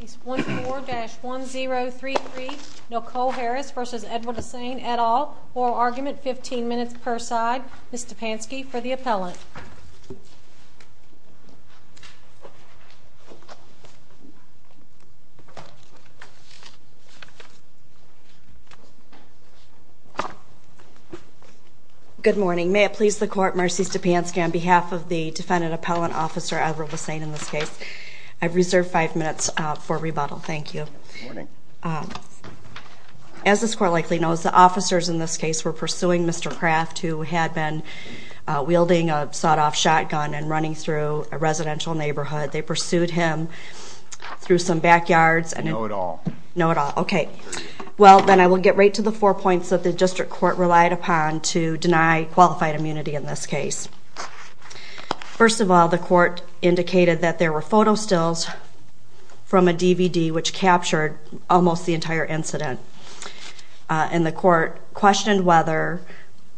Case 14-1033, Nicole Harris v. Edward Lasseigne, et al. Oral argument, 15 minutes per side. Ms. Stepanski for the appellant. Good morning. May it please the court, Mercy Stepanski, on behalf of the defendant appellant officer Edward Lasseigne in this case, I reserve five minutes for rebuttal. Thank you. Good morning. As this court likely knows, the officers in this case were pursuing Mr. Kraft, who had been wielding a sawed-off shotgun and running through a residential neighborhood. They pursued him through some backyards. No at all. No at all. Okay. Well, then I will get right to the four points that the district court relied upon to deny qualified immunity in this case. First of all, the court indicated that there were photo stills from a DVD which captured almost the entire incident. And the court questioned whether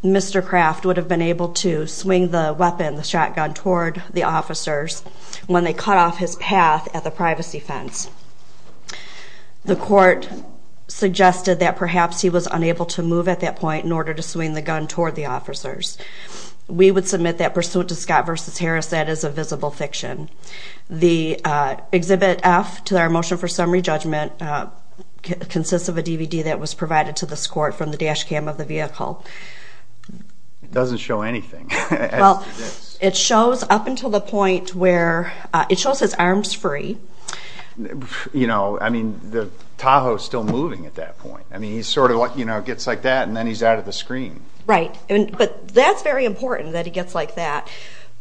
Mr. Kraft would have been able to swing the weapon, the shotgun, toward the officers when they cut off his path at the privacy fence. The court suggested that perhaps he was unable to move at that point in order to swing the gun toward the officers. We would submit that pursuit to Scott v. Harris. That is a visible fiction. The Exhibit F to our motion for summary judgment consists of a DVD that was provided to this court from the dash cam of the vehicle. It doesn't show anything. Well, it shows up until the point where it shows his arms free. You know, I mean, Tahoe is still moving at that point. I mean, he sort of gets like that, and then he's out of the screen. Right. But that's very important that he gets like that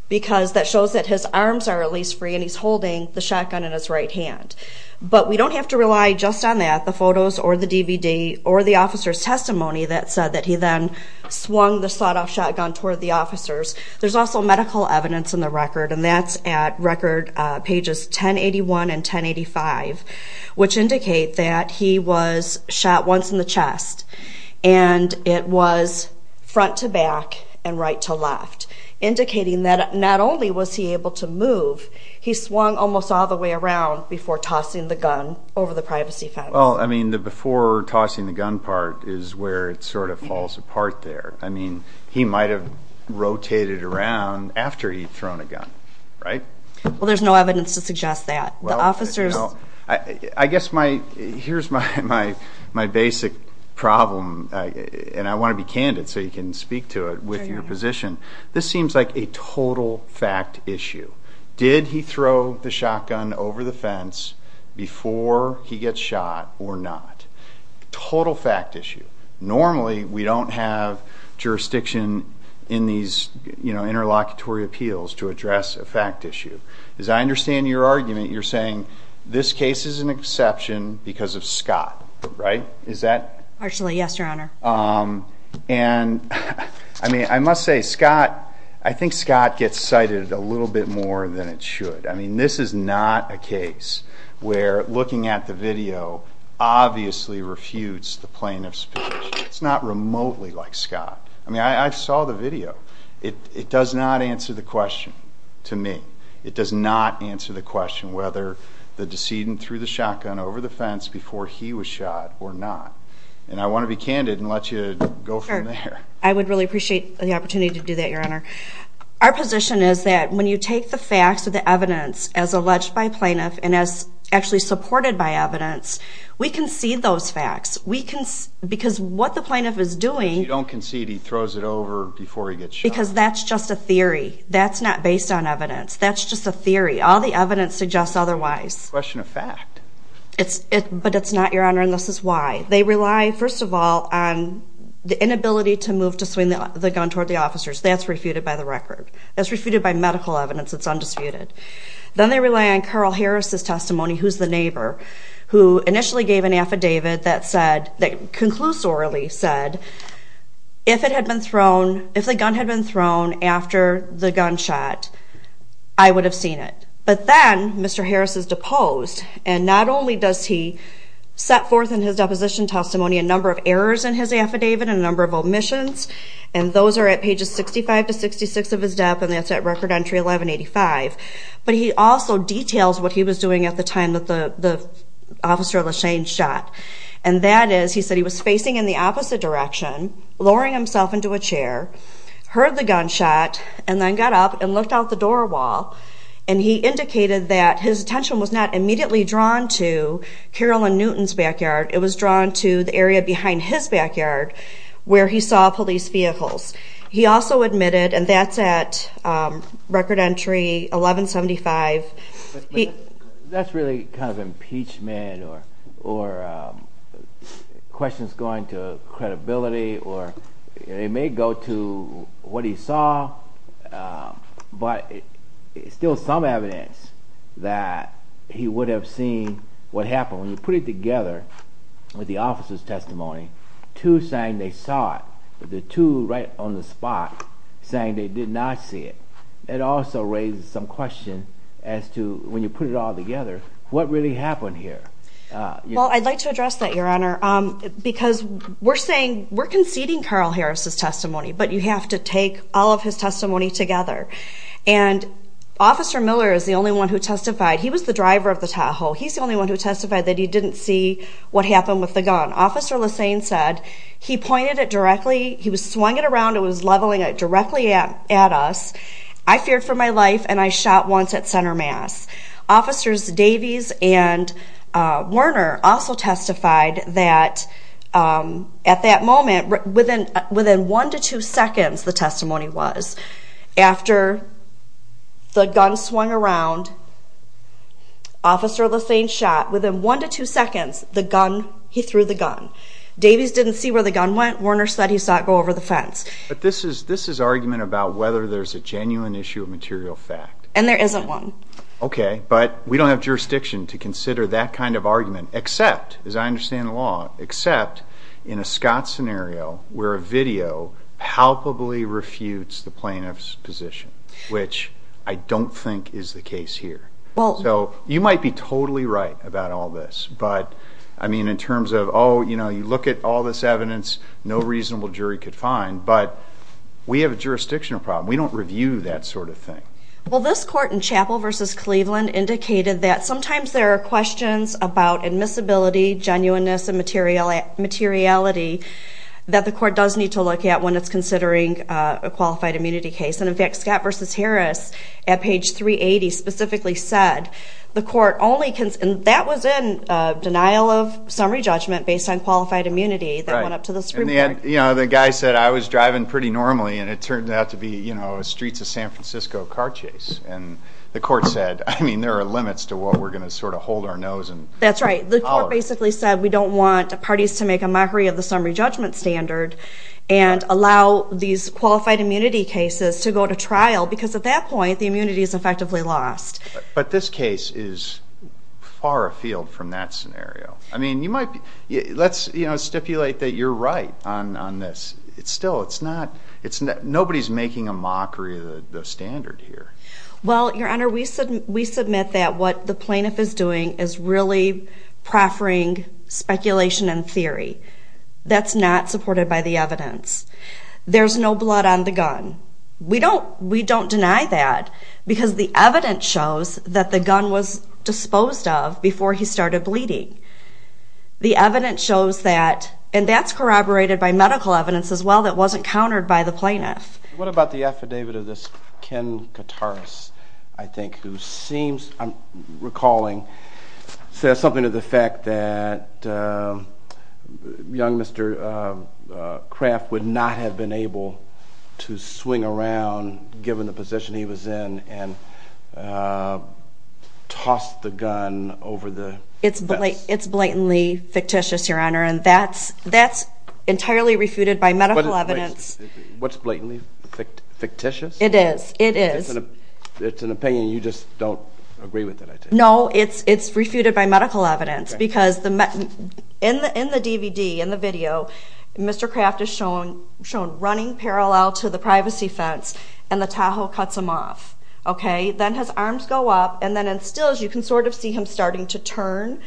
because that shows that his arms are at least free and he's holding the shotgun in his right hand. But we don't have to rely just on that, the photos or the DVD or the officer's testimony that said that he then swung the sawed-off shotgun toward the officers. There's also medical evidence in the record, and that's at record pages 1081 and 1085, which indicate that he was shot once in the chest, and it was front to back and right to left, indicating that not only was he able to move, he swung almost all the way around before tossing the gun over the privacy fence. Well, I mean, the before tossing the gun part is where it sort of falls apart there. I mean, he might have rotated around after he'd thrown a gun, right? Well, there's no evidence to suggest that. I guess here's my basic problem, and I want to be candid so you can speak to it with your position. This seems like a total fact issue. Did he throw the shotgun over the fence before he gets shot or not? Total fact issue. Normally we don't have jurisdiction in these interlocutory appeals to address a fact issue. As I understand your argument, you're saying this case is an exception because of Scott, right? Is that? Actually, yes, Your Honor. And, I mean, I must say Scott, I think Scott gets cited a little bit more than it should. I mean, this is not a case where looking at the video obviously refutes the plaintiff's position. It's not remotely like Scott. I mean, I saw the video. It does not answer the question to me. It does not answer the question whether the decedent threw the shotgun over the fence before he was shot or not. And I want to be candid and let you go from there. I would really appreciate the opportunity to do that, Your Honor. Our position is that when you take the facts or the evidence as alleged by plaintiff and as actually supported by evidence, we concede those facts because what the plaintiff is doing is you don't concede he throws it over before he gets shot. Because that's just a theory. That's not based on evidence. That's just a theory. All the evidence suggests otherwise. It's a question of fact. But it's not, Your Honor, and this is why. They rely, first of all, on the inability to move to swing the gun toward the officers. That's refuted by the record. That's refuted by medical evidence. It's undisputed. Then they rely on Carl Harris' testimony, who's the neighbor, who initially gave an affidavit that conclusorily said, if the gun had been thrown after the gunshot, I would have seen it. But then Mr. Harris is deposed, and not only does he set forth in his deposition testimony a number of errors in his affidavit and a number of omissions, and those are at pages 65 to 66 of his death, and that's at record entry 1185, but he also details what he was doing at the time that the officer, LaShane, shot, and that is he said he was facing in the opposite direction, lowering himself into a chair, heard the gunshot, and then got up and looked out the door wall, and he indicated that his attention was not immediately drawn to Carolyn Newton's backyard. It was drawn to the area behind his backyard where he saw police vehicles. He also admitted, and that's at record entry 1175. That's really kind of impeachment or questions going to credibility, or it may go to what he saw, but it's still some evidence that he would have seen what happened. When you put it together with the officer's testimony, two saying they saw it, but the two right on the spot saying they did not see it, it also raises some question as to when you put it all together, what really happened here? Well, I'd like to address that, Your Honor, because we're conceding Carl Harris's testimony, but you have to take all of his testimony together, and Officer Miller is the only one who testified. He was the driver of the Tahoe. He's the only one who testified that he didn't see what happened with the gun. Officer Lesane said he pointed it directly. He was swinging it around and was leveling it directly at us. I feared for my life, and I shot once at center mass. Officers Davies and Werner also testified that at that moment, within one to two seconds, the testimony was, after the gun swung around, Officer Lesane shot. Within one to two seconds, he threw the gun. Davies didn't see where the gun went. Werner said he saw it go over the fence. But this is argument about whether there's a genuine issue of material fact. And there isn't one. Okay, but we don't have jurisdiction to consider that kind of argument, except, as I understand the law, except in a Scott scenario where a video palpably refutes the plaintiff's position, which I don't think is the case here. So you might be totally right about all this. But, I mean, in terms of, oh, you know, you look at all this evidence, no reasonable jury could find, but we have a jurisdictional problem. We don't review that sort of thing. Well, this court in Chapel v. Cleveland indicated that sometimes there are questions about admissibility, genuineness, and materiality that the court does need to look at when it's considering a qualified immunity case. And, in fact, Scott v. Harris, at page 380, specifically said the court only can, and that was in denial of summary judgment based on qualified immunity that went up to the Supreme Court. And the guy said, I was driving pretty normally, and it turned out to be a streets of San Francisco car chase. And the court said, I mean, there are limits to what we're going to sort of hold our nose and holler. That's right. The court basically said we don't want parties to make a mockery of the summary judgment standard and allow these qualified immunity cases to go to trial because, at that point, the immunity is effectively lost. But this case is far afield from that scenario. I mean, let's stipulate that you're right on this. Still, nobody's making a mockery of the standard here. Well, Your Honor, we submit that what the plaintiff is doing is really proffering speculation and theory. That's not supported by the evidence. There's no blood on the gun. We don't deny that because the evidence shows that the gun was disposed of before he started bleeding. The evidence shows that, and that's corroborated by medical evidence as well that wasn't countered by the plaintiff. What about the affidavit of this Ken Kataris, I think, who seems, I'm recalling, says something to the fact that young Mr. Kraft would not have been able to swing around, given the position he was in, and toss the gun over the fence? It's blatantly fictitious, Your Honor, and that's entirely refuted by medical evidence. What's blatantly fictitious? It is. It is. It's an opinion you just don't agree with, I take it? No, it's refuted by medical evidence because in the DVD, in the video, Mr. Kraft is shown running parallel to the privacy fence, and the Tahoe cuts him off. Then his arms go up, and then in stills, you can sort of see him starting to turn,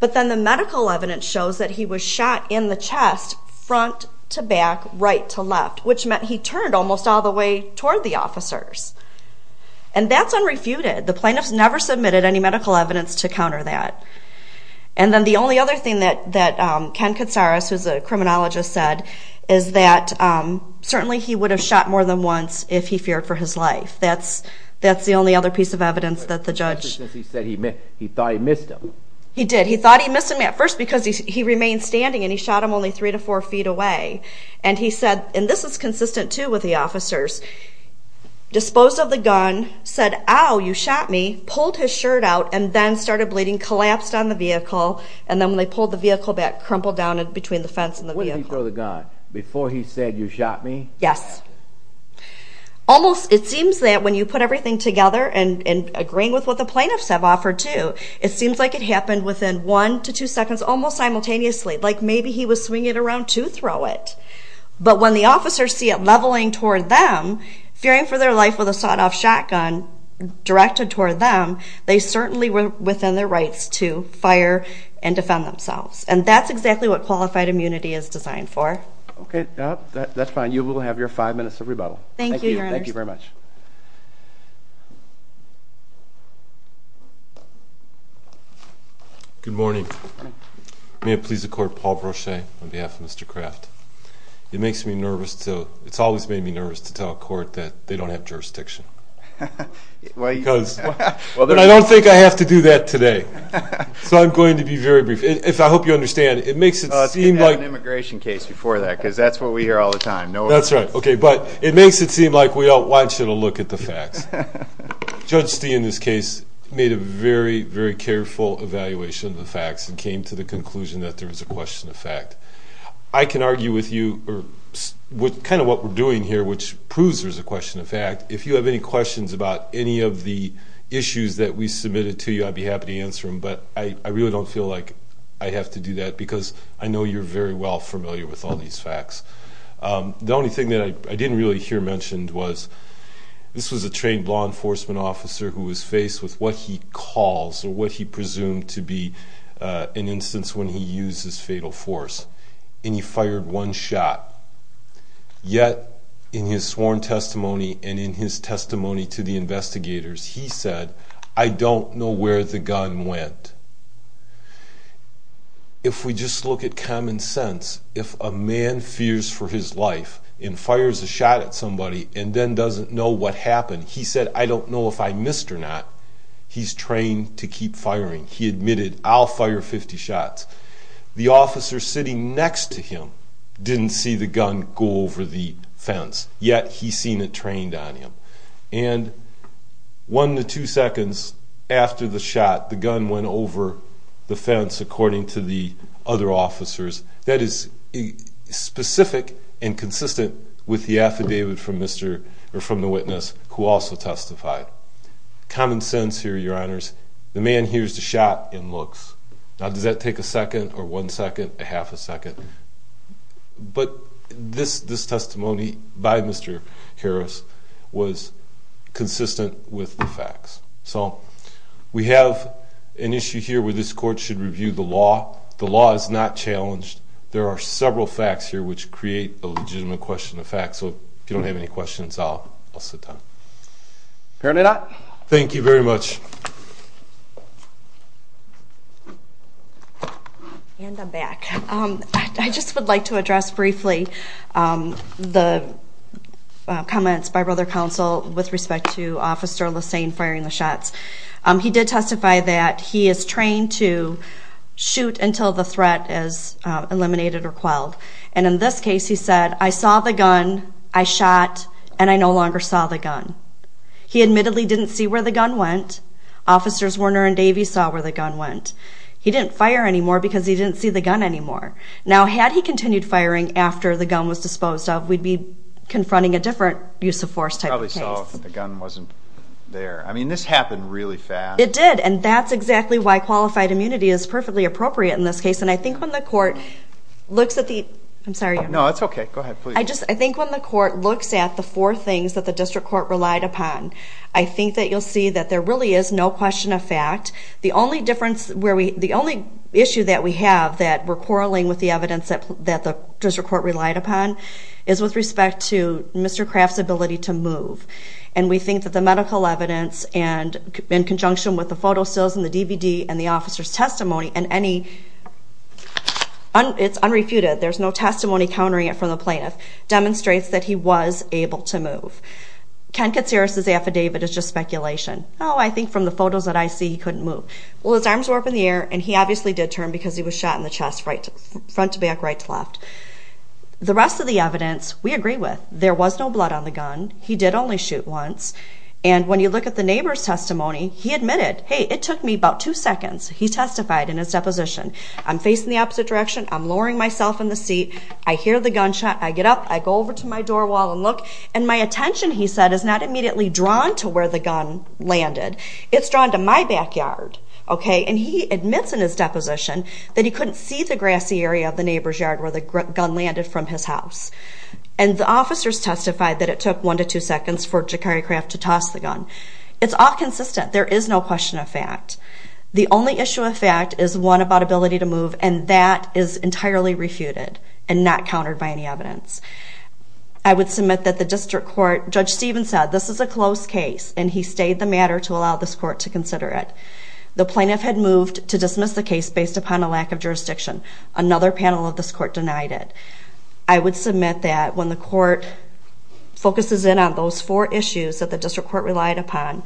but then the medical evidence shows that he was shot in the chest, front to back, right to left, which meant he turned almost all the way toward the officers. And that's unrefuted. The plaintiffs never submitted any medical evidence to counter that. And then the only other thing that Ken Kataris, who's a criminologist, said, is that certainly he would have shot more than once if he feared for his life. That's the only other piece of evidence that the judge... He said he thought he missed him. He did. He thought he missed him at first because he remained standing, and he shot him only 3 to 4 feet away. And he said... And this is consistent, too, with the officers. Disposed of the gun, said, Ow, you shot me, pulled his shirt out, and then started bleeding, collapsed on the vehicle, and then when they pulled the vehicle back, crumpled down between the fence and the vehicle. When did he throw the gun? Before he said, You shot me? Yes. Almost... It seems that when you put everything together and agreeing with what the plaintiffs have offered, too, it seems like it happened within 1 to 2 seconds, almost simultaneously. Like, maybe he was swinging it around to throw it. But when the officers see it leveling toward them, fearing for their life with a sawed-off shotgun directed toward them, they certainly were within their rights to fire and defend themselves. And that's exactly what qualified immunity is designed for. Okay. That's fine. You will have your 5 minutes of rebuttal. Thank you, Your Honors. Thank you very much. Good morning. Good morning. May it please the Court, Paul Brochet, on behalf of Mr. Craft. It makes me nervous to... It's always made me nervous to tell a court that they don't have jurisdiction. Because... But I don't think I have to do that today. So I'm going to be very brief. I hope you understand, it makes it seem like... Oh, it's going to have an immigration case before that, because that's what we hear all the time. That's right. Okay, but it makes it seem like we all want you to look at the facts. Judge Stee in this case made a very, very careful evaluation of the facts and came to the conclusion that there was a question of fact. I can argue with you kind of what we're doing here, which proves there's a question of fact. If you have any questions about any of the issues that we submitted to you, I'd be happy to answer them, but I really don't feel like I have to do that, because I know you're very well familiar with all these facts. The only thing that I didn't really hear mentioned was this was a trained law enforcement officer who was faced with what he calls or what he presumed to be an instance when he used his fatal force, and he fired one shot. Yet, in his sworn testimony and in his testimony to the investigators, he said, I don't know where the gun went. If we just look at common sense, if a man fears for his life and fires a shot at somebody and then doesn't know what happened, he said, I don't know if I missed or not. He's trained to keep firing. He admitted, I'll fire 50 shots. The officer sitting next to him didn't see the gun go over the fence, yet he seen it trained on him. And one to two seconds after the shot, the gun went over the fence, according to the other officers. That is specific and consistent with the affidavit from the witness who also testified. Common sense here, your honors, the man hears the shot and looks. Now, does that take a second or one second, a half a second? But this testimony by Mr. Harris was consistent with the facts. So, we have an issue here where this court should review the law. The law is not challenged. There are several facts here which create a legitimate question of facts. So, if you don't have any questions, I'll sit down. Thank you very much. And I'm back. I just would like to address briefly the comments by Brother Counsel with respect to Officer Lesane firing the shots. He did testify that he is trained to eliminate or quell. And in this case, he said, I saw the gun, I shot, and I no longer saw the gun. He admittedly didn't see where the gun went. Officers Werner and Davey saw where the gun went. He didn't fire anymore because he didn't see the gun anymore. Now, had he continued firing after the gun was disposed of, we'd be confronting a different use of force type of case. I probably saw the gun wasn't there. I mean, this happened really fast. It did, and that's exactly why qualified immunity is perfectly appropriate in this case. And I think when the court looks at the... I'm sorry. No, it's okay. Go ahead, please. I think when the court looks at the four things that the district court relied upon, I think that you'll see that there really is no question of fact. The only issue that we have that we're quarreling with the evidence that the district court relied upon is with respect to Mr. Craft's ability to move. And we think that the medical evidence in conjunction with the photo stills and the DVD and the officer's testimony and any... It's unrefuted. There's no testimony countering it from the plaintiff. Demonstrates that he was able to move. Ken Katsiris' affidavit is just speculation. Oh, I think from the photos that I see, he couldn't move. Well, his arms were up in the air, and he obviously did turn because he was shot in the chest, front to back, right to left. The rest of the evidence, we agree with. There was no blood on the gun. He did only shoot once. And when you look at the neighbor's testimony, he admitted, hey, it took me about two seconds. He testified in his deposition. I'm facing the opposite direction. I'm lowering myself in the seat. I hear the gunshot. I get up. I go over to my door wall and look. And my attention, he said, is not immediately drawn to where the gun landed. It's drawn to my backyard, okay? And he admits in his deposition that he couldn't see the grassy area of the neighbor's yard where the gun landed from his house. And the officers testified that it took one to two seconds for Jakari Craft to toss the gun. It's all consistent. There is no question of fact. The only issue of fact is one about ability to move, and that is entirely refuted and not countered by any evidence. I would submit that the district court, Judge Stevens said, this is a closed case, and he stayed the matter to allow this court to consider it. The plaintiff had moved to dismiss the case based upon a lack of jurisdiction. Another panel of this court denied it. I would submit that when the court focuses in on those four issues that the district court relied upon,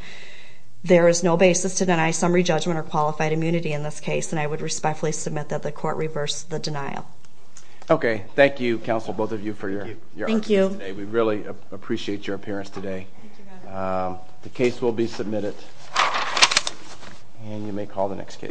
there is no basis to deny summary judgment or qualified immunity in this case. And I would respectfully submit that the court reversed the denial. Okay. Thank you, counsel, both of you, for your arguments today. We really appreciate your appearance today. The case will be submitted and you may call the next case.